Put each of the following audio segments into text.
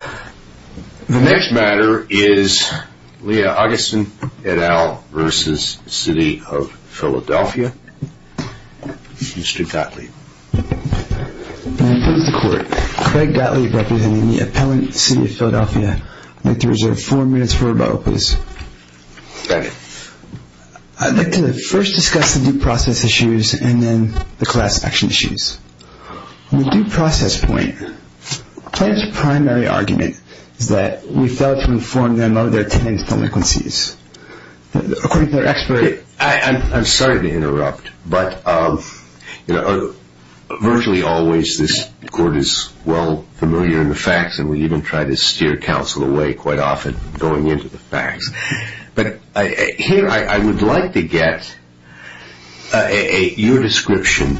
The next matter is Leah Augustin et al. v. City of Philadelphia. Mr. Gottlieb. I propose the court. Craig Gottlieb representing the appellant City of Philadelphia. I'd like to reserve four minutes for rebuttal, please. Got it. I'd like to first discuss the due process issues and then the class action issues. On the due process point, the plaintiff's primary argument is that we failed to inform them of their tenant's delinquencies. According to their expert... I'm sorry to interrupt, but virtually always this court is well familiar in the facts, and we even try to steer counsel away quite often going into the facts. But here I would like to get your description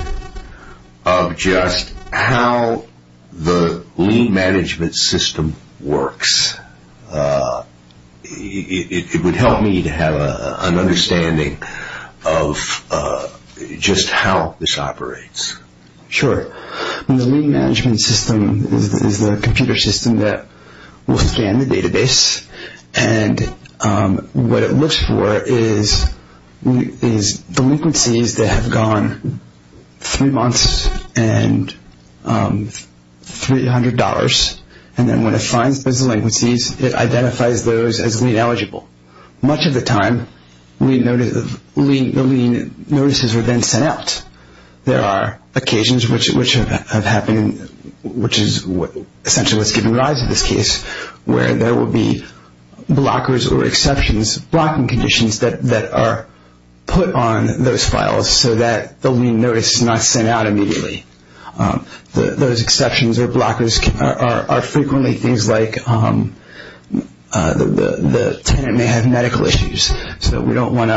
of just how the lien management system works. It would help me to have an understanding of just how this operates. Sure. The lien management system is the computer system that will scan the database, and what it looks for is delinquencies that have gone three months and $300, and then when it finds those delinquencies, it identifies those as lien eligible. Much of the time, the lien notices are then sent out. There are occasions which have happened, which is essentially what's given rise to this case, where there will be blockers or exceptions, blocking conditions that are put on those files so that the lien notice is not sent out immediately. Those exceptions or blockers are frequently things like the tenant may have medical issues, so we don't want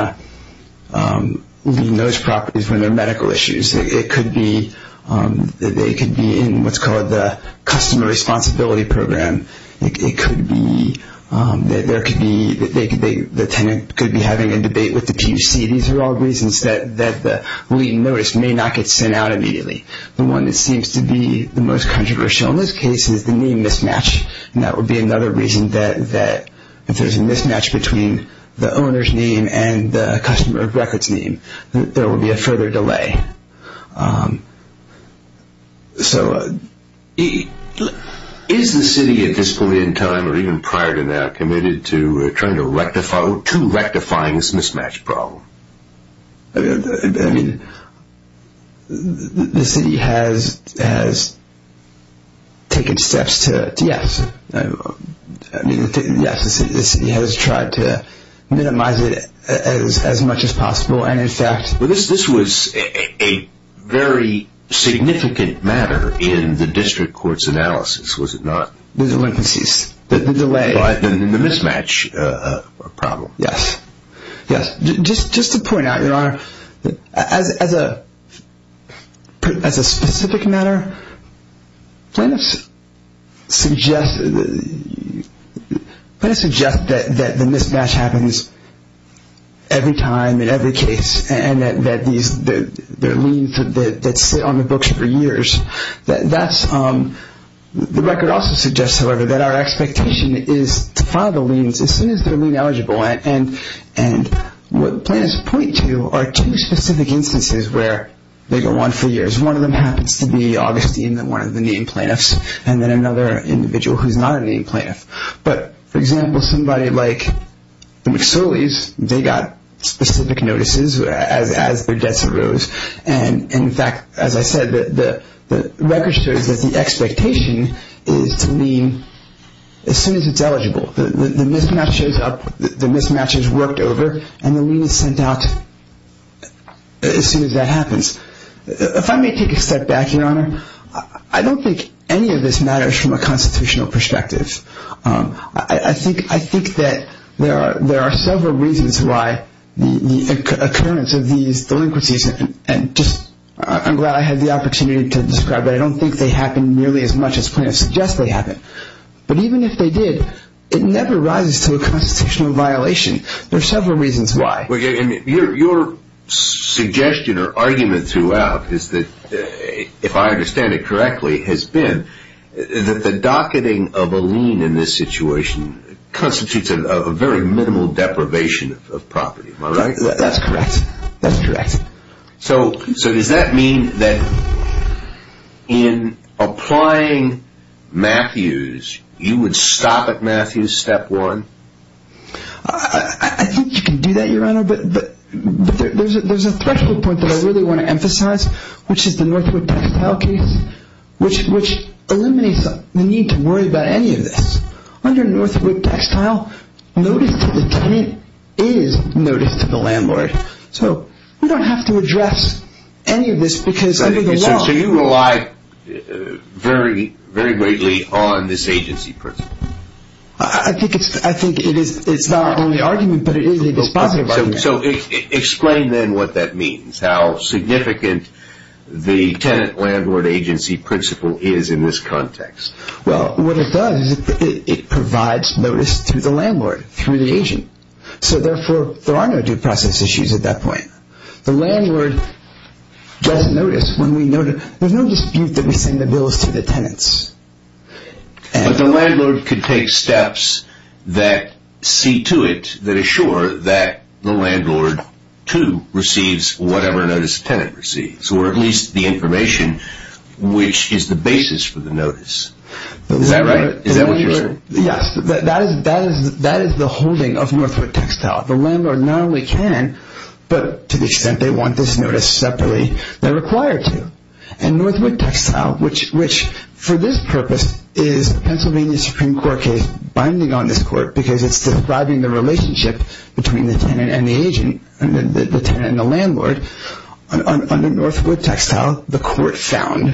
to lien those properties when they're medical issues. It could be that they could be in what's called the customer responsibility program. It could be that the tenant could be having a debate with the QC. These are all reasons that the lien notice may not get sent out immediately. The one that seems to be the most controversial in this case is the name mismatch, and that would be another reason that if there's a mismatch between the owner's name and the customer records name, there will be a further delay. So is the city at this point in time or even prior to that committed to trying to rectify or to rectifying this mismatch problem? I mean, the city has taken steps to, yes. I mean, yes, the city has tried to minimize it as much as possible, and in fact... Well, this was a very significant matter in the district court's analysis, was it not? The delinquencies, the delay. The mismatch problem. Yes, yes. Just to point out, Your Honor, as a specific matter, plaintiffs suggest that the mismatch happens every time in every case and that there are liens that sit on the books for years. The record also suggests, however, that our expectation is to file the liens as soon as they're made eligible, and what plaintiffs point to are two specific instances where they go on for years. One of them happens to be Augustine, one of the named plaintiffs, and then another individual who's not a named plaintiff. But, for example, somebody like the McSullies, they got specific notices as their debts arose, and in fact, as I said, the record shows that the expectation is to lien as soon as it's eligible. The mismatch shows up, the mismatch is worked over, and the lien is sent out as soon as that happens. If I may take a step back, Your Honor, I don't think any of this matters from a constitutional perspective. I think that there are several reasons why the occurrence of these delinquencies, and I'm glad I had the opportunity to describe it, I don't think they happen nearly as much as plaintiffs suggest they happen. But even if they did, it never rises to a constitutional violation. There are several reasons why. Your suggestion or argument throughout is that, if I understand it correctly, has been that the docketing of a lien in this situation constitutes a very minimal deprivation of property. Am I right? That's correct. That's correct. So does that mean that in applying Matthews, you would stop at Matthews, step one? I think you can do that, Your Honor, but there's a threshold point that I really want to emphasize, which is the Northwood Textile case, which eliminates the need to worry about any of this. Under Northwood Textile, notice to the tenant is notice to the landlord. So we don't have to address any of this because under the law- So you rely very greatly on this agency principle. I think it's not only argument, but it is a dispositive argument. So explain then what that means, how significant the tenant-landlord agency principle is in this context. Well, what it does is it provides notice to the landlord through the agent. So therefore, there are no due process issues at that point. The landlord doesn't notice when we notice. There's no dispute that we send the bills to the tenants. But the landlord could take steps that see to it, that assure that the landlord, too, receives whatever notice the tenant receives, or at least the information, which is the basis for the notice. Is that right? Is that what you're saying? Yes, that is the holding of Northwood Textile. The landlord not only can, but to the extent they want this notice separately, they're required to. And Northwood Textile, which for this purpose is Pennsylvania Supreme Court case, binding on this court because it's describing the relationship between the tenant and the agent, the tenant and the landlord. Under Northwood Textile, the court found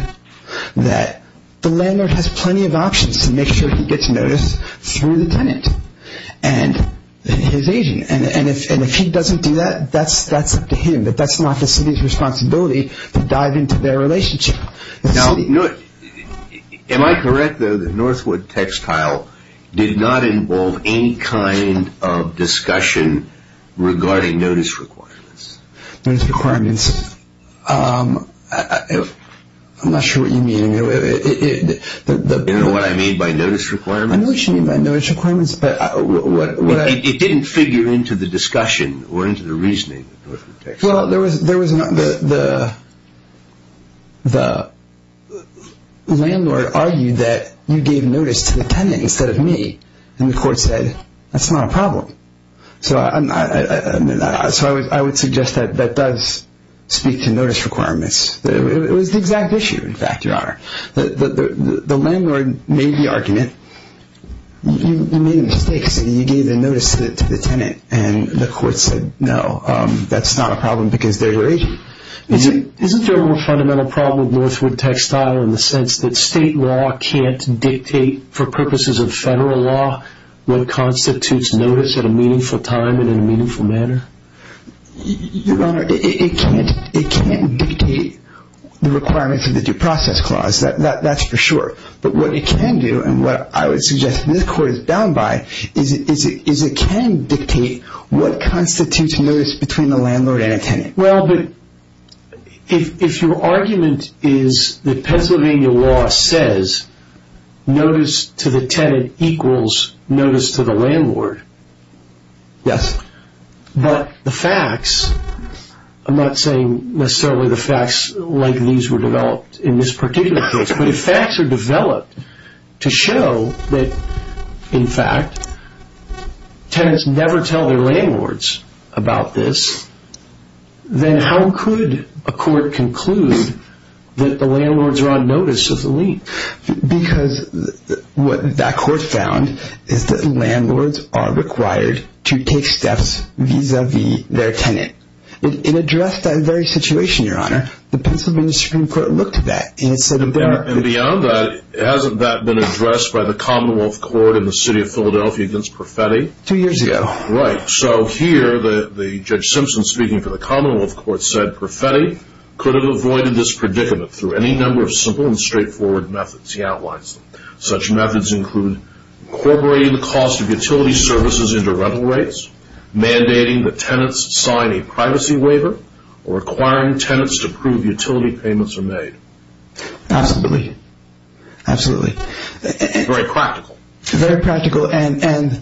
that the landlord has plenty of options to make sure he gets notice through the tenant and his agent. And if he doesn't do that, that's up to him. That's not the city's responsibility to dive into their relationship. Now, am I correct, though, that Northwood Textile did not involve any kind of discussion regarding notice requirements? Notice requirements. I'm not sure what you mean. You don't know what I mean by notice requirements? I know what you mean by notice requirements. It didn't figure into the discussion or into the reasoning of Northwood Textile. Well, the landlord argued that you gave notice to the tenant instead of me. And the court said, that's not a problem. So I would suggest that that does speak to notice requirements. It was the exact issue, in fact, Your Honor. The landlord made the argument, you made a mistake, so you gave the notice to the tenant and the court said, no, that's not a problem because they're your agent. Isn't there a more fundamental problem with Northwood Textile in the sense that state law can't dictate for purposes of federal law what constitutes notice at a meaningful time and in a meaningful manner? Your Honor, it can't dictate the requirements of the due process clause, that's for sure. But what it can do, and what I would suggest this court is bound by, is it can dictate what constitutes notice between the landlord and a tenant. Well, but if your argument is that Pennsylvania law says notice to the tenant equals notice to the landlord. Yes. But the facts, I'm not saying necessarily the facts like these were developed in this particular case, but if facts are developed to show that, in fact, tenants never tell their landlords about this, then how could a court conclude that the landlords are on notice of the lien? Because what that court found is that landlords are required to take steps vis-a-vis their tenant. It addressed that very situation, Your Honor. The Pennsylvania Supreme Court looked at that and it said that there are... And beyond that, hasn't that been addressed by the Commonwealth Court in the city of Philadelphia against Perfetti? Two years ago. Right, so here the Judge Simpson speaking for the Commonwealth Court said Perfetti could have avoided this predicament through any number of simple and straightforward methods he outlines. Such methods include incorporating the cost of utility services into rental rates, mandating that tenants sign a privacy waiver, or requiring tenants to prove utility payments are made. Absolutely, absolutely. Very practical. Very practical, and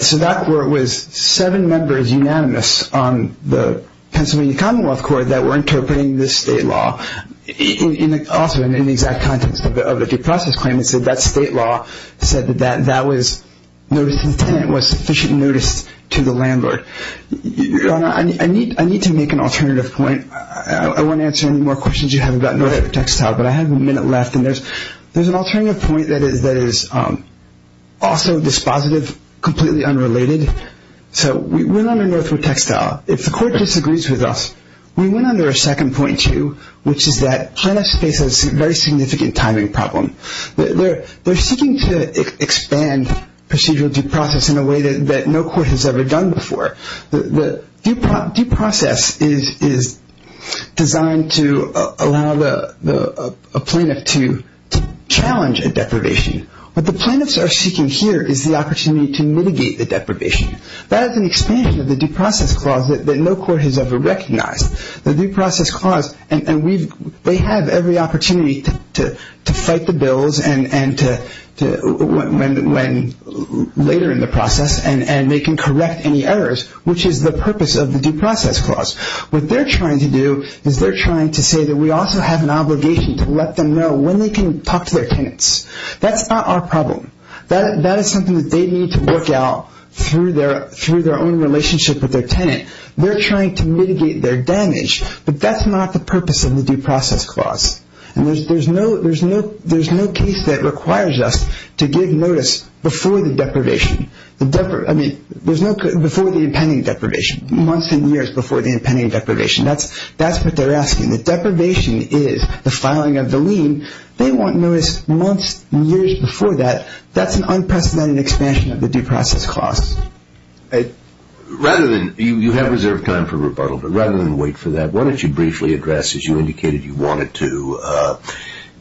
so that court was seven members unanimous on the Pennsylvania Commonwealth Court that were interpreting this state law, also in the exact context of the due process claim, and said that state law said that that was notice of the tenant was sufficient notice to the landlord. Your Honor, I need to make an alternative point. I won't answer any more questions you have about Northwood Textile, but I have a minute left, and there's an alternative point that is also dispositive, completely unrelated. So we went under Northwood Textile. If the court disagrees with us, we went under a second point, too, which is that plaintiffs face a very significant timing problem. They're seeking to expand procedural due process in a way that no court has ever done before. Due process is designed to allow a plaintiff to challenge a deprivation. What the plaintiffs are seeking here is the opportunity to mitigate the deprivation. That is an expansion of the due process clause that no court has ever recognized. The due process clause, and they have every opportunity to fight the bills later in the process, and they can correct any errors, which is the purpose of the due process clause. What they're trying to do is they're trying to say that we also have an obligation to let them know when they can talk to their tenants. That's not our problem. That is something that they need to work out through their own relationship with their tenant. They're trying to mitigate their damage, but that's not the purpose of the due process clause. There's no case that requires us to give notice before the impending deprivation, months and years before the impending deprivation. That's what they're asking. The deprivation is the filing of the lien. They want notice months and years before that. That's an unprecedented expansion of the due process clause. You have reserved time for rebuttal, but rather than wait for that, why don't you briefly address, as you indicated you wanted to,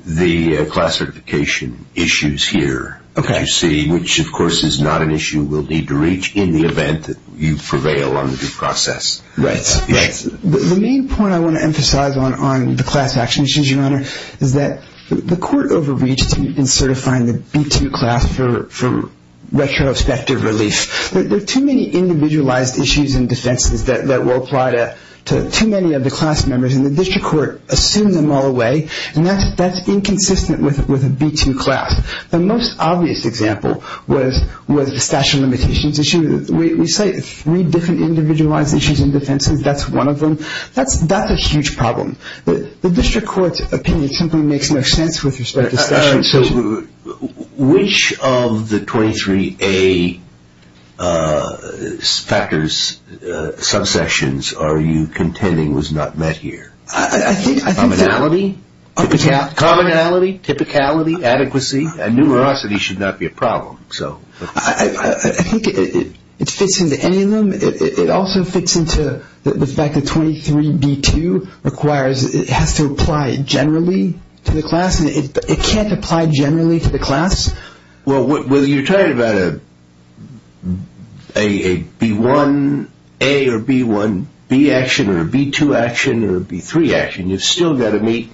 the class certification issues here, which of course is not an issue we'll need to reach in the event that you prevail on the due process. Right. The main point I want to emphasize on the class action issues, Your Honor, is that the court overreached in certifying the B-2 class for retrospective relief. There are too many individualized issues and defenses that will apply to too many of the class members, and the district court assumed them all away, and that's inconsistent with a B-2 class. The most obvious example was the statute of limitations issue. We cite three different individualized issues and defenses. That's one of them. That's a huge problem. The district court's opinion simply makes no sense with respect to statute. All right. So which of the 23A factors, subsections, are you contending was not met here? Commonality. Commonality, typicality, adequacy, and numerosity should not be a problem. I think it fits into any of them. It also fits into the fact that 23B-2 requires it has to apply generally to the class, and it can't apply generally to the class. Well, whether you're talking about a B-1A or B-1B action or a B-2 action or a B-3 action, you've still got to meet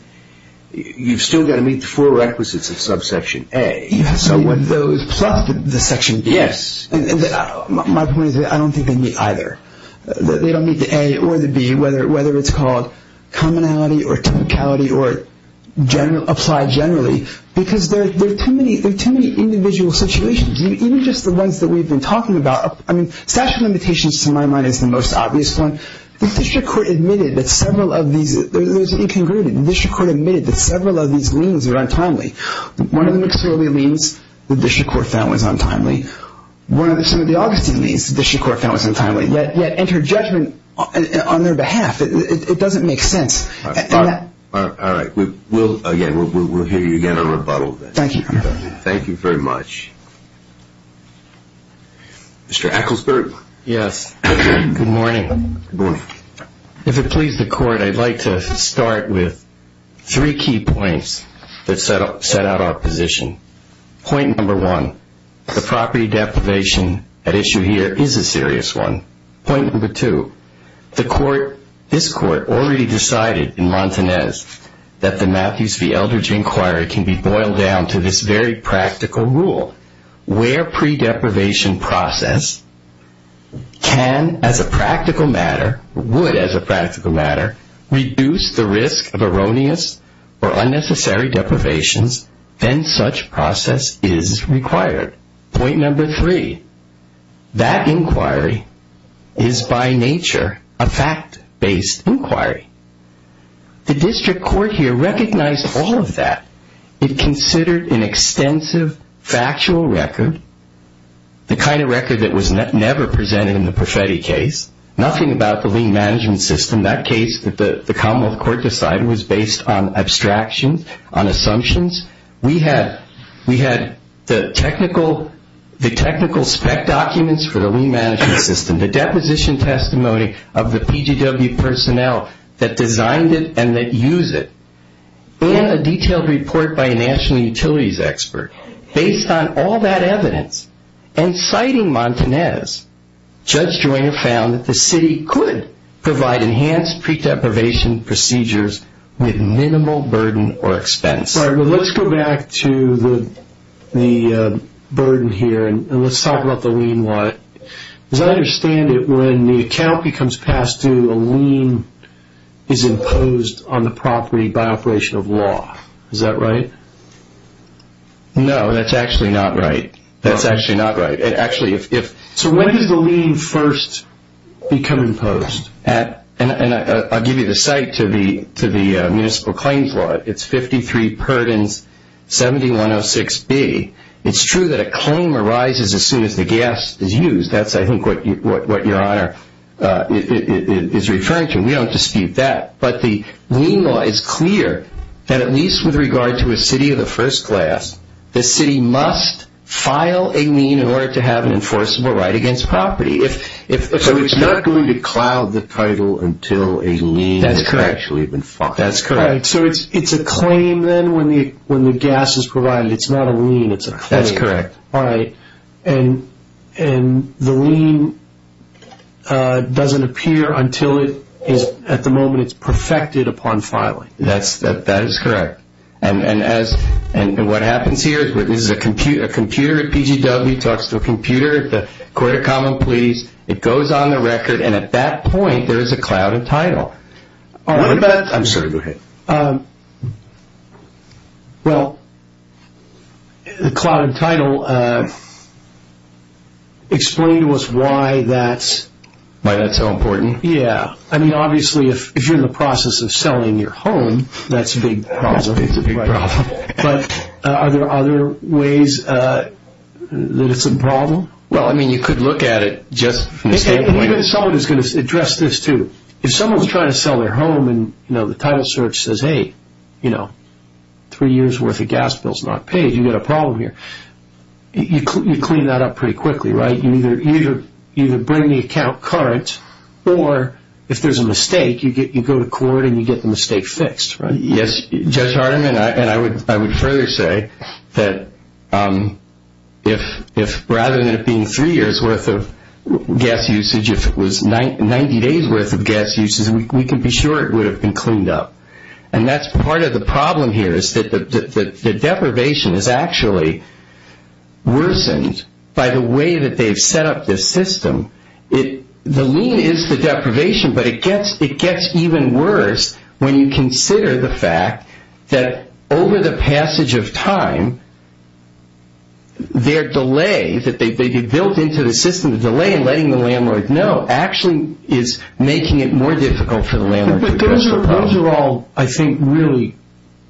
the four requisites of subsection A. So would those plus the section B? Yes. My point is I don't think they meet either. They don't meet the A or the B, whether it's called commonality or typicality or apply generally, because there are too many individual situations. Even just the ones that we've been talking about. I mean, statute of limitations, to my mind, is the most obvious one. The district court admitted that several of these are untimely. One of them clearly means the district court found it was untimely. One of them clearly means the district court found it was untimely, yet entered judgment on their behalf. It doesn't make sense. All right. Again, we'll hear you again on rebuttal. Thank you. Thank you very much. Mr. Ecclesburg? Yes. Good morning. Good morning. If it pleases the court, I'd like to start with three key points that set out our position. Point number one, the property deprivation at issue here is a serious one. Point number two, this court already decided in Montanez that the Matthews v. Eldridge Inquiry can be boiled down to this very practical rule, where pre-deprivation process can, as a practical matter, would, as a practical matter, reduce the risk of erroneous or unnecessary deprivations, then such process is required. Point number three, that inquiry is by nature a fact-based inquiry. The district court here recognized all of that. It considered an extensive factual record, the kind of record that was never presented in the Profetti case, nothing about the lien management system. That case that the commonwealth court decided was based on abstractions, on assumptions. We had the technical spec documents for the lien management system, the deposition testimony of the PGW personnel that designed it and that use it. And a detailed report by a national utilities expert. Based on all that evidence and citing Montanez, Judge Joyner found that the city could provide enhanced pre-deprivation procedures with minimal burden or expense. Let's go back to the burden here and let's talk about the lien. As I understand it, when the account becomes past due, a lien is imposed on the property by operation of law. Is that right? No, that's actually not right. That's actually not right. So when does the lien first become imposed? I'll give you the site to the municipal claims law. It's 53 Perdens 7106B. It's true that a claim arises as soon as the gas is used. That's, I think, what Your Honor is referring to. We don't dispute that. But the lien law is clear that at least with regard to a city of the first class, the city must file a lien in order to have an enforceable right against property. So it's not going to cloud the title until a lien has actually been filed. That's correct. So it's a claim then when the gas is provided. It's not a lien. It's a claim. That's correct. All right. And the lien doesn't appear until it is, at the moment, it's perfected upon filing. That is correct. And what happens here is a computer at PGW talks to a computer at the Court of Common Pleas. It goes on the record, and at that point, there is a cloud of title. All right. I'm sorry. Go ahead. Well, the cloud of title, explain to us why that's... Why that's so important. Yeah. I mean, obviously, if you're in the process of selling your home, that's a big problem. It's a big problem. But are there other ways that it's a problem? Well, I mean, you could look at it just from the standpoint of... Someone is going to address this, too. If someone is trying to sell their home, and the title search says, hey, three years' worth of gas bill is not paid, you've got a problem here. You clean that up pretty quickly, right? You either bring the account current, or if there's a mistake, you go to court, and you get the mistake fixed, right? Yes. Judge Hardiman, and I would further say that rather than it being three years' worth of gas usage, if it was 90 days' worth of gas usage, we can be sure it would have been cleaned up. And that's part of the problem here is that the deprivation is actually worsened by the way that they've set up this system. The lien is the deprivation, but it gets even worse when you consider the fact that over the passage of time, their delay that they've built into the system, the delay in letting the landlord know, actually is making it more difficult for the landlord to address the problem. Those are all, I think, really,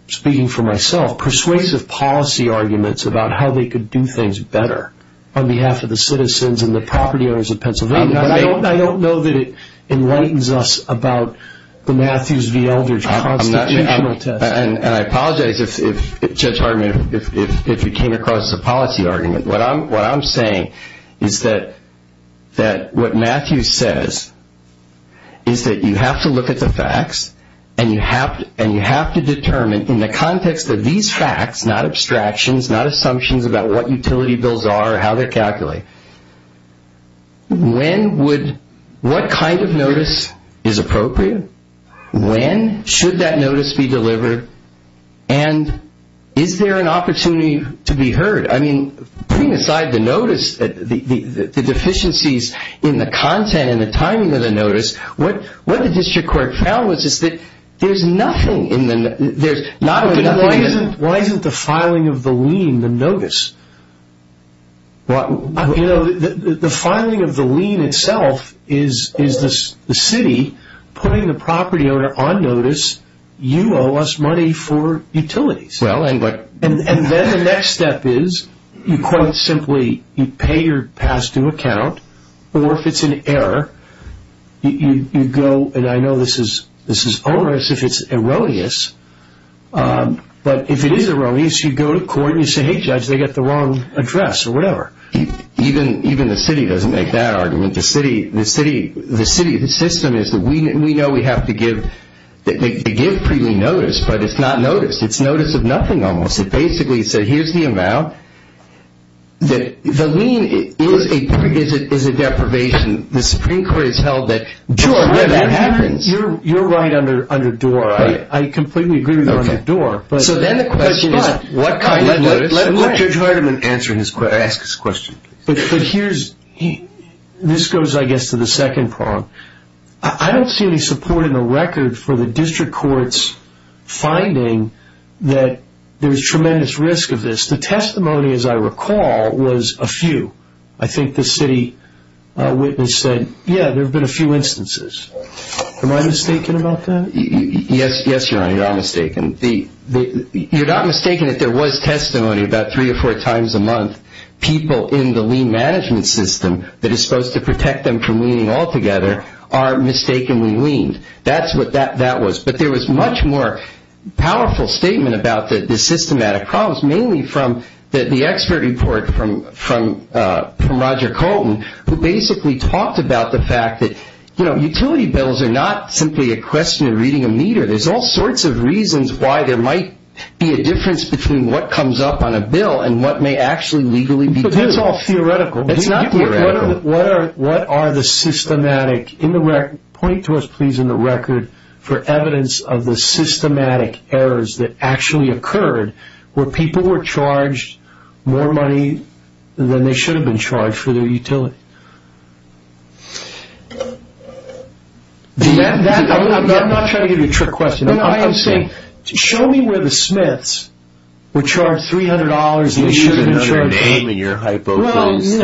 speaking for myself, persuasive policy arguments about how they could do things better on behalf of the citizens and the property owners of Pennsylvania. I don't know that it enlightens us about the Matthews v. Eldridge constitutional test. And I apologize, Judge Hardiman, if you came across a policy argument. What I'm saying is that what Matthews says is that you have to look at the facts and you have to determine in the context of these facts, not abstractions, not assumptions about what utility bills are or how they're calculated, what kind of notice is appropriate? When should that notice be delivered? And is there an opportunity to be heard? I mean, putting aside the notice, the deficiencies in the content and the timing of the notice, what the district court found was that there's nothing in the notice. Why isn't the filing of the lien the notice? You know, the filing of the lien itself is the city putting the property owner on notice, you owe us money for utilities. And then the next step is, you quote simply, you pay your past due account, or if it's an error, you go, and I know this is onerous if it's erroneous, but if it is erroneous, you go to court and you say, hey, judge, they got the wrong address or whatever. Even the city doesn't make that argument. The city, the system is that we know we have to give pre-lien notice, but it's not notice. It's notice of nothing almost. It basically said, here's the amount. The lien is a deprivation. The Supreme Court has held that. You're right under door. I completely agree with you under door. So then the question is, what kind of notice? Let Judge Hardiman answer his question. Ask his question. But here's, this goes, I guess, to the second prong. I don't see any support in the record for the district court's finding that there's tremendous risk of this. The testimony, as I recall, was a few. I think the city witness said, yeah, there have been a few instances. Am I mistaken about that? Yes, Your Honor, you're not mistaken. You're not mistaken that there was testimony about three or four times a month. People in the lien management system that is supposed to protect them from liening altogether are mistakenly liened. That's what that was. But there was much more powerful statement about the systematic problems, mainly from the expert report from Roger Colton, who basically talked about the fact that utility bills are not simply a question of reading a meter. There's all sorts of reasons why there might be a difference between what comes up on a bill and what may actually legally be due. But that's all theoretical. It's not theoretical. What are the systematic, point to us please in the record, for evidence of the systematic errors that actually occurred where people were charged more money than they should have been charged for their utility? I'm not trying to give you a trick question. I am saying, show me where the Smiths were charged $300 and they should have been charged more. There's another name in your hypothesis.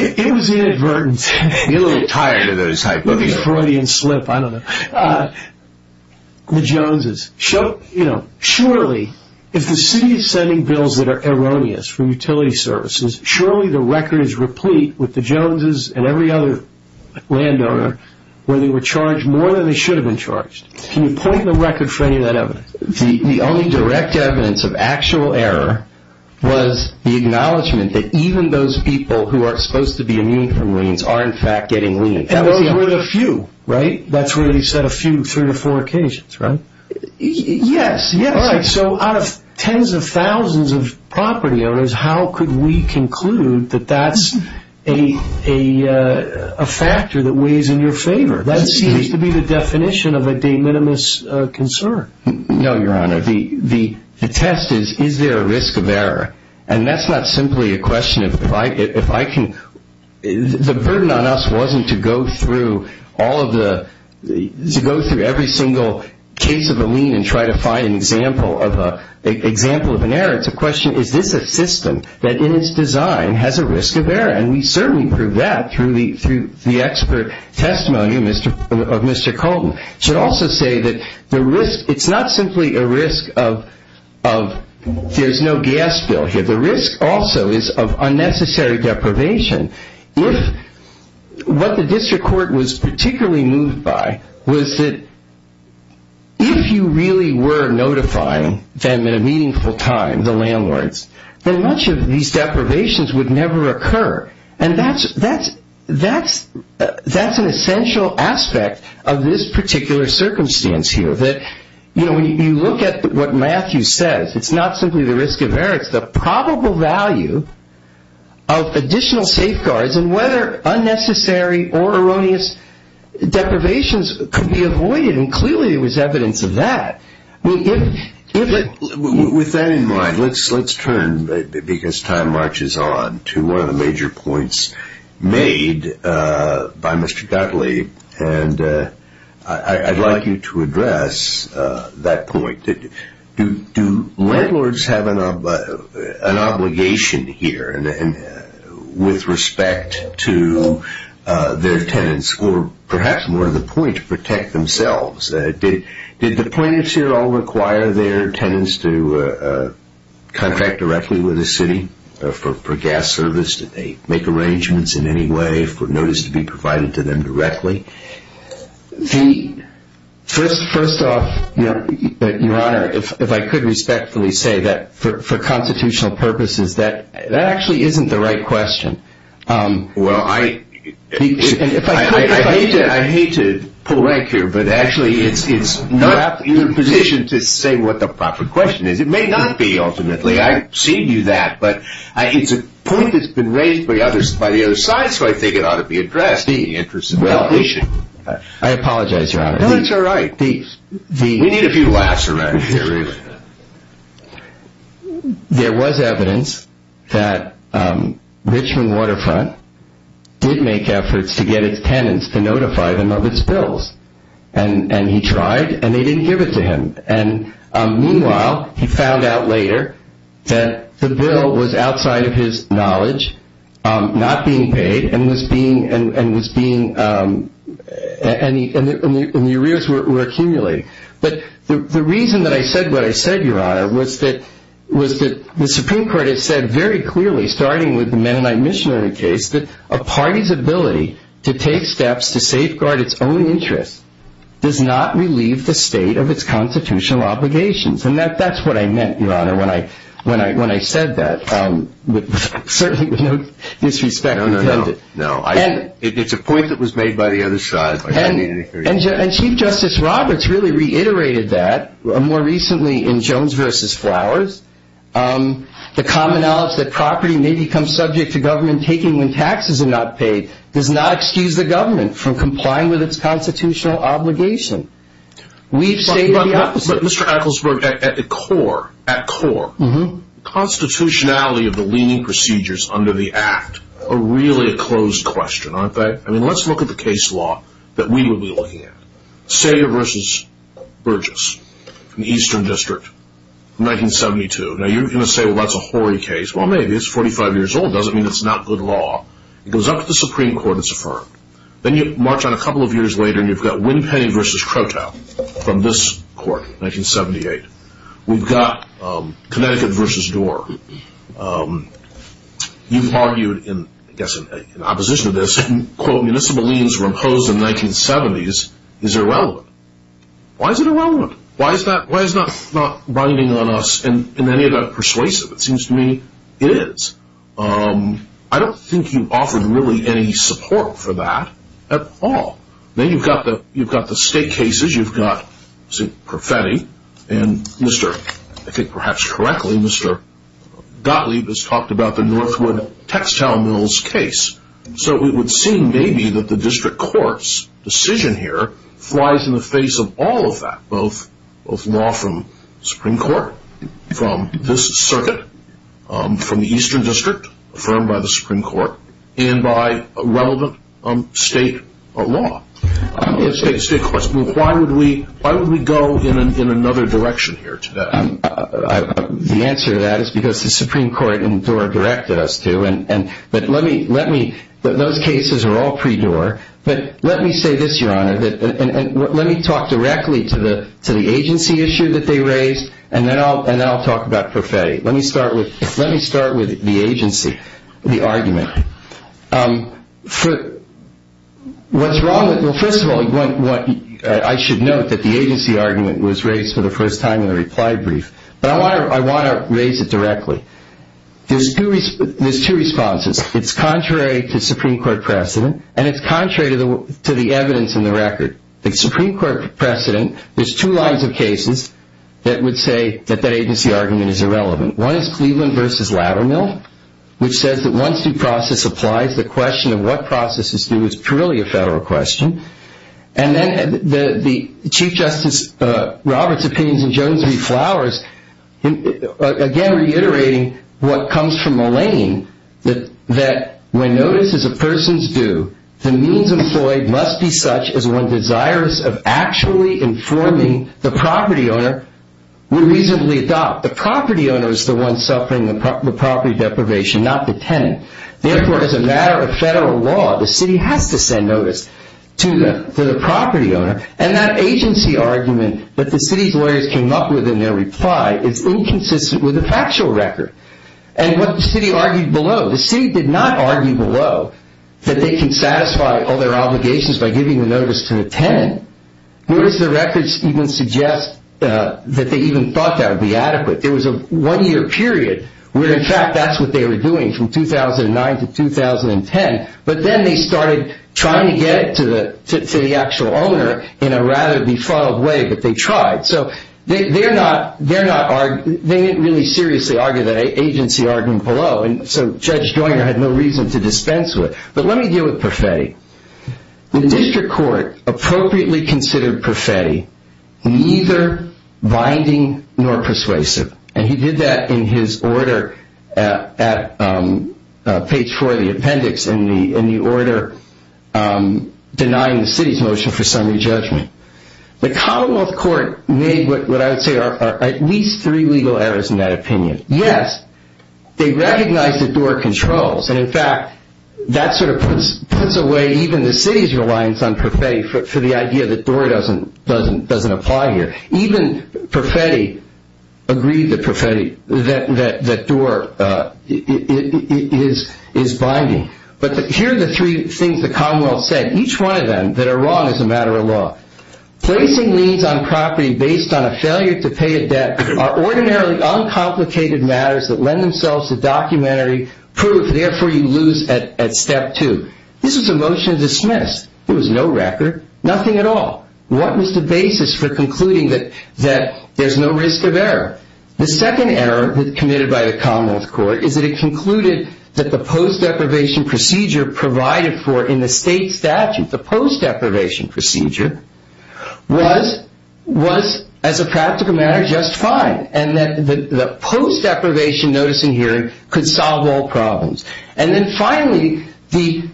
It was inadvertent. You're a little tired of those hypotheses. Maybe Freudian slip. I don't know. The Joneses. Surely, if the city is sending bills that are erroneous from utility services, surely the record is replete with the Joneses and every other landowner where they were charged more than they should have been charged. Can you point in the record for any of that evidence? The only direct evidence of actual error was the acknowledgement that even those people who are supposed to be immune from liens are in fact getting liens. And those were the few, right? That's where you said a few, three or four occasions, right? Yes. All right. So out of tens of thousands of property owners, how could we conclude that that's a factor that weighs in your favor? That seems to be the definition of a de minimis concern. No, Your Honor. The test is, is there a risk of error? And that's not simply a question of if I can – the burden on us wasn't to go through all of the – to go through every single case of a lien and try to find an example of an error. It's a question, is this a system that in its design has a risk of error? And we certainly prove that through the expert testimony of Mr. Colton. I should also say that the risk – it's not simply a risk of there's no gas bill here. The risk also is of unnecessary deprivation. If – what the district court was particularly moved by was that if you really were notifying them in a meaningful time, the landlords, then much of these deprivations would never occur. And that's an essential aspect of this particular circumstance here. That, you know, when you look at what Matthew says, it's not simply the risk of error. It's the probable value of additional safeguards and whether unnecessary or erroneous deprivations could be avoided. And clearly there was evidence of that. With that in mind, let's turn, because time marches on, to one of the major points made by Mr. Dudley. And I'd like you to address that point. Do landlords have an obligation here with respect to their tenants or perhaps more to the point, to protect themselves? Did the plaintiffs here all require their tenants to contract directly with the city for gas service? Did they make arrangements in any way for notice to be provided to them directly? First off, Your Honor, if I could respectfully say that for constitutional purposes, that actually isn't the right question. Well, I hate to pull rank here, but actually it's not your position to say what the proper question is. It may not be, ultimately. I've seen you do that, but it's a point that's been raised by the other side, so I think it ought to be addressed in the interest of validation. I apologize, Your Honor. No, it's all right. We need a few laughs around here, really. There was evidence that Richmond Waterfront did make efforts to get its tenants to notify them of its bills, and he tried, and they didn't give it to him. And meanwhile, he found out later that the bill was outside of his knowledge, not being paid, and the arrears were accumulating. But the reason that I said what I said, Your Honor, was that the Supreme Court has said very clearly, starting with the Mennonite Missionary case, that a party's ability to take steps to safeguard its own interests does not relieve the state of its constitutional obligations. And that's what I meant, Your Honor, when I said that, certainly with no disrespect intended. No, no, no. It's a point that was made by the other side. And Chief Justice Roberts really reiterated that more recently in Jones v. Flowers. The common knowledge that property may become subject to government taking when taxes are not paid does not excuse the government from complying with its constitutional obligation. We've stated the opposite. But, Mr. Ecclesburg, at core, constitutionality of the leaning procedures under the Act are really a closed question, aren't they? I mean, let's look at the case law that we would be looking at. Sager v. Burgess in the Eastern District, 1972. Now, you're going to say, well, that's a hoary case. Well, maybe. It's 45 years old. It doesn't mean it's not good law. It goes up to the Supreme Court. It's affirmed. Then you march on a couple of years later, and you've got Winpenny v. Crotale from this court, 1978. We've got Connecticut v. Doar. You've argued, I guess in opposition to this, quote, municipal liens were imposed in the 1970s. Is it relevant? Why is it irrelevant? Why is that not binding on us in any of that persuasive? It seems to me it is. I don't think you offered really any support for that at all. Then you've got the state cases. You've got St. Profetti and, I think perhaps correctly, Mr. Gottlieb has talked about the Northwood-Textile Mills case. So it would seem maybe that the district court's decision here flies in the face of all of that, both law from the Supreme Court, from this circuit, from the Eastern District, affirmed by the Supreme Court, and by relevant state law. Let me ask you a state question. Why would we go in another direction here today? The answer to that is because the Supreme Court and Doar directed us to. But those cases are all pre-Doar. But let me say this, Your Honor, and let me talk directly to the agency issue that they raised, and then I'll talk about Profetti. Let me start with the agency, the argument. What's wrong with it? Well, first of all, I should note that the agency argument was raised for the first time in the reply brief. But I want to raise it directly. There's two responses. It's contrary to Supreme Court precedent, and it's contrary to the evidence in the record. The Supreme Court precedent, there's two lines of cases that would say that that agency argument is irrelevant. One is Cleveland v. Laddermill, which says that once due process applies, the question of what process is due is purely a federal question. And then the Chief Justice Roberts' opinions in Jones v. Flowers, again, reiterating what comes from Mullaney, that when notice is a person's due, the means employed must be such as one desires of actually informing the property owner would reasonably adopt. The property owner is the one suffering the property deprivation, not the tenant. Therefore, as a matter of federal law, the city has to send notice to the property owner. And that agency argument that the city's lawyers came up with in their reply is inconsistent with the factual record. And what the city argued below, the city did not argue below that they can satisfy all their obligations by giving the notice to the tenant. Notice the records even suggest that they even thought that would be adequate. There was a one-year period where, in fact, that's what they were doing from 2009 to 2010. But then they started trying to get it to the actual owner in a rather befuddled way, but they tried. So they didn't really seriously argue that agency argument below, so Judge Joyner had no reason to dispense with it. But let me deal with Perfetti. The district court appropriately considered Perfetti neither binding nor persuasive, and he did that in his order at page four of the appendix in the order denying the city's motion for summary judgment. The Commonwealth Court made what I would say are at least three legal errors in that opinion. Yes, they recognized that Doar controls. And, in fact, that sort of puts away even the city's reliance on Perfetti for the idea that Doar doesn't apply here. Even Perfetti agreed that Doar is binding. But here are the three things the Commonwealth said, each one of them that are wrong as a matter of law. Placing liens on property based on a failure to pay a debt are ordinarily uncomplicated matters that lend themselves to documentary proof, therefore you lose at step two. This was a motion dismissed. There was no record, nothing at all. What was the basis for concluding that there's no risk of error? The second error committed by the Commonwealth Court is that it concluded that the post-deprivation procedure provided for in the state statute, the post-deprivation procedure, was, as a practical matter, just fine, and that the post-deprivation notice and hearing could solve all problems. And then, finally, the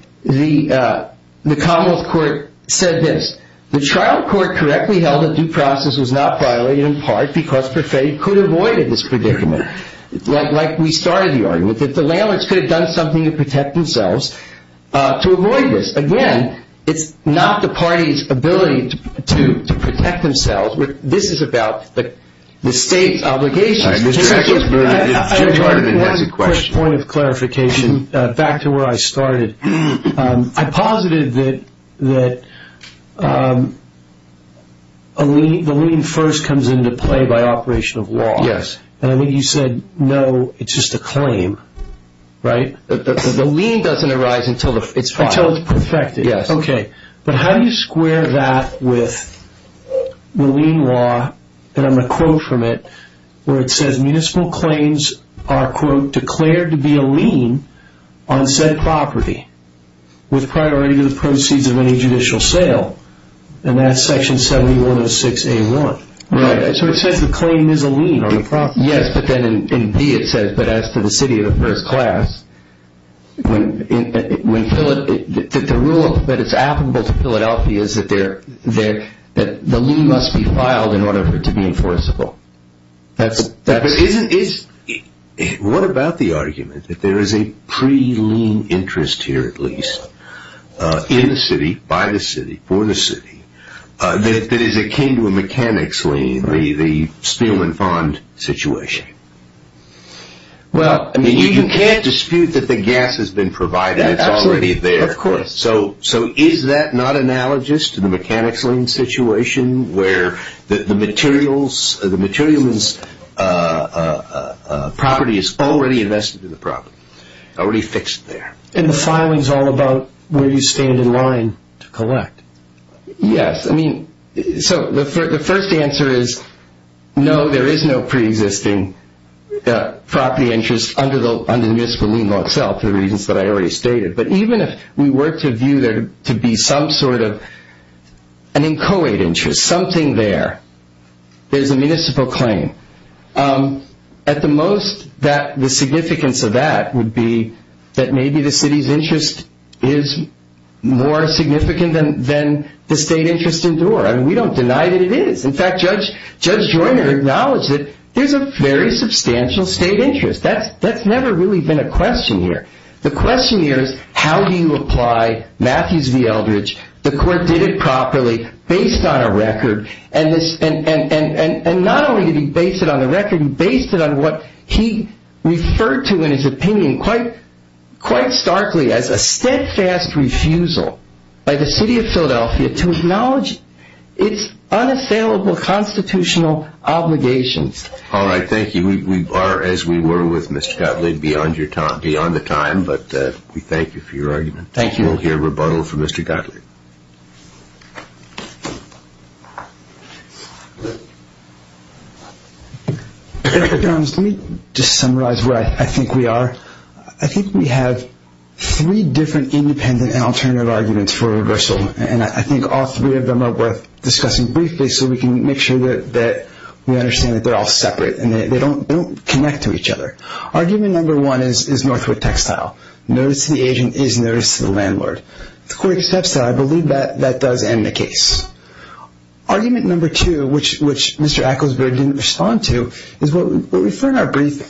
Commonwealth Court said this, the trial court correctly held that due process was not violated in part because Perfetti could have avoided this predicament, like we started the argument, that the landlords could have done something to protect themselves to avoid this. Again, it's not the party's ability to protect themselves. This is about the state's obligation. Mr. Echolsberg, Jim Chardin has a question. One quick point of clarification, back to where I started. I posited that the lien first comes into play by operation of law. Yes. And I mean, you said, no, it's just a claim, right? The lien doesn't arise until it's perfected. Until it's perfected. Yes. Okay. But how do you square that with the lien law, and I'm going to quote from it, where it says, municipal claims are, quote, declared to be a lien on said property with priority to the proceeds of any judicial sale, and that's section 7106A1. Right. So it says the claim is a lien on the property. Yes, but then in B it says, but as to the city of the first class, that it's applicable to Philadelphia is that the lien must be filed in order for it to be enforceable. What about the argument that there is a pre-lien interest here at least in the city, by the city, for the city, that is akin to a mechanics lien, the steel and bond situation? Well, I mean, you can't dispute that the gas has been provided. Absolutely. It's already there. Of course. So is that not analogous to the mechanics lien situation, where the material's property is already invested in the property, already fixed there? And the filing's all about where you stand in line to collect. Yes. I mean, so the first answer is, no, there is no pre-existing property interest under the municipal lien law itself, for the reasons that I already stated. But even if we were to view there to be some sort of an inchoate interest, something there, there's a municipal claim. At the most, the significance of that would be that maybe the city's interest is more significant than the state interest in Dorr. I mean, we don't deny that it is. In fact, Judge Joyner acknowledged that there's a very substantial state interest. That's never really been a question here. The question here is, how do you apply Matthews v. Eldridge, the court did it properly, based on a record, and not only did he base it on a record, he based it on what he referred to in his opinion quite starkly, as a steadfast refusal by the city of Philadelphia to acknowledge its unassailable constitutional obligations. All right, thank you. We are as we were with Mr. Gottlieb beyond the time, but we thank you for your argument. Thank you. We'll hear rebuttal from Mr. Gottlieb. Let me just summarize what I think we are. I think we have three different independent and alternative arguments for reversal, and I think all three of them are worth discussing briefly so we can make sure that we understand that they're all separate and they don't connect to each other. Argument number one is Northwood textile. Notice to the agent is notice to the landlord. The court accepts that. I believe that that does end the case. Argument number two, which Mr. Ecclesbury didn't respond to, is what we refer to in our brief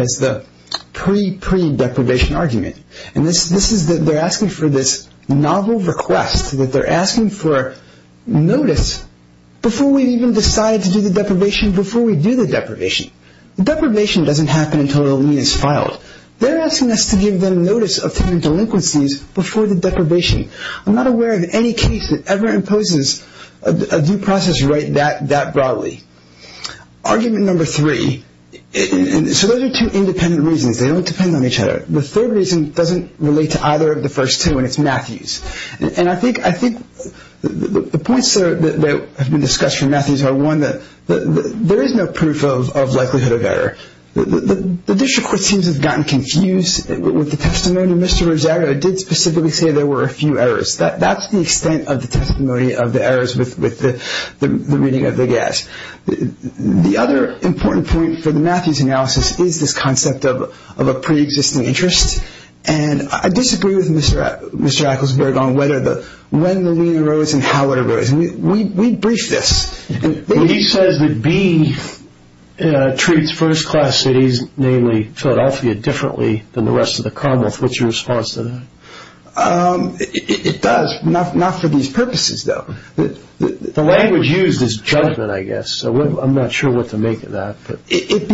as the pre-pre-deprivation argument, and this is that they're asking for this novel request, that they're asking for notice before we even decide to do the deprivation before we do the deprivation. Deprivation doesn't happen until a lien is filed. They're asking us to give them notice of tenant delinquencies before the deprivation. I'm not aware of any case that ever imposes a due process right that broadly. Argument number three, so those are two independent reasons. They don't depend on each other. The third reason doesn't relate to either of the first two, and it's Matthews. And I think the points that have been discussed from Matthews are, one, there is no proof of likelihood of error. The district court seems to have gotten confused with the testimony. Mr. Rosario did specifically say there were a few errors. That's the extent of the testimony of the errors with the reading of the gas. The other important point for the Matthews analysis is this concept of a pre-existing interest, and I disagree with Mr. Ecclesbury on when the lien arose and how it arose. We briefed this. He says that B treats first-class cities, namely Philadelphia, differently than the rest of the Commonwealth. What's your response to that? It does, not for these purposes, though. The language used is judgment, I guess, so I'm not sure what to make of that. It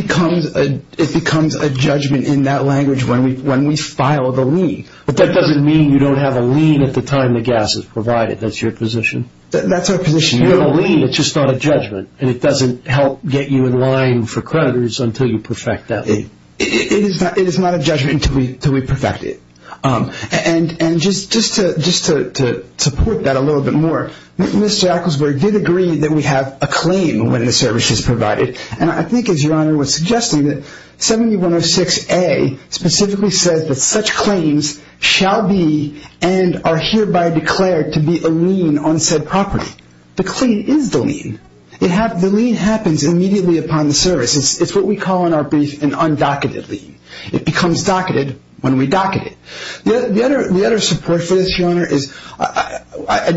becomes a judgment in that language when we file the lien. But that doesn't mean you don't have a lien at the time the gas is provided. That's your position? That's our position. You have a lien, it's just not a judgment, and it doesn't help get you in line for creditors until you perfect that lien. It is not a judgment until we perfect it. And just to support that a little bit more, Mr. Ecclesbury did agree that we have a claim when the service is provided, and I think, as Your Honor was suggesting, that 7106A specifically says that such claims shall be and are hereby declared to be a lien on said property. The claim is the lien. The lien happens immediately upon the service. It's what we call in our brief an undocketed lien. It becomes docketed when we docket it. The other support for this, Your Honor, is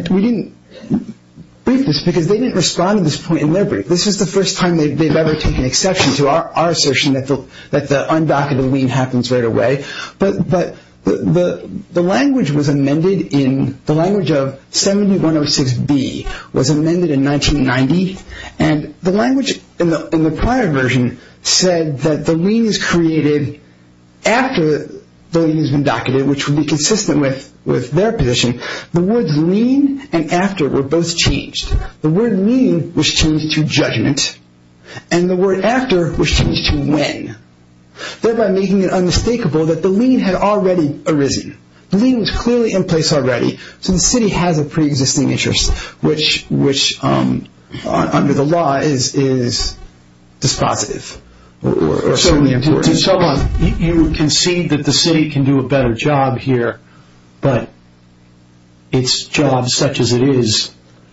we didn't brief this because they didn't respond to this point in their brief. This is the first time they've ever taken exception to our assertion that the undocketed lien happens right away. But the language of 7106B was amended in 1990, and the language in the prior version said that the lien is created after the lien has been docketed, which would be consistent with their position. The words lien and after were both changed. The word lien was changed to judgment, and the word after was changed to when, thereby making it unmistakable that the lien had already arisen. The lien was clearly in place already, so the city has a preexisting interest, which under the law is dispositive. You concede that the city can do a better job here, but its job, such as it is,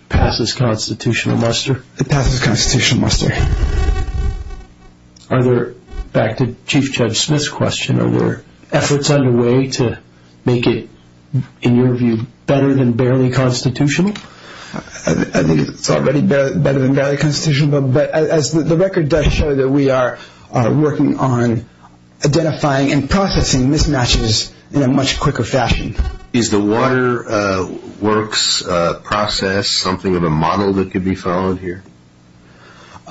passes constitutional muster? It passes constitutional muster. Are there, back to Chief Judge Smith's question, are there efforts underway to make it, in your view, better than barely constitutional? I think it's already better than barely constitutional, but as the record does show that we are working on identifying and processing mismatches in a much quicker fashion. Is the Water Works process something of a model that could be followed here?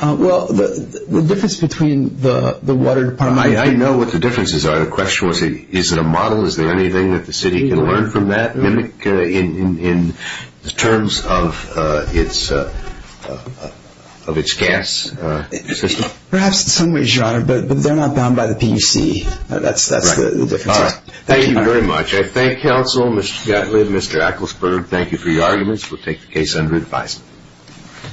Well, the difference between the water department and the city. I know what the differences are. The question was is it a model? Is there anything that the city can learn from that, mimic in terms of its gas system? Perhaps in some ways, Your Honor, but they're not bound by the PUC. That's the difference. All right. Thank you very much. I thank counsel, Mr. Gatlin, Mr. Ecclesburg. Thank you for your arguments. We'll take the case under advisement.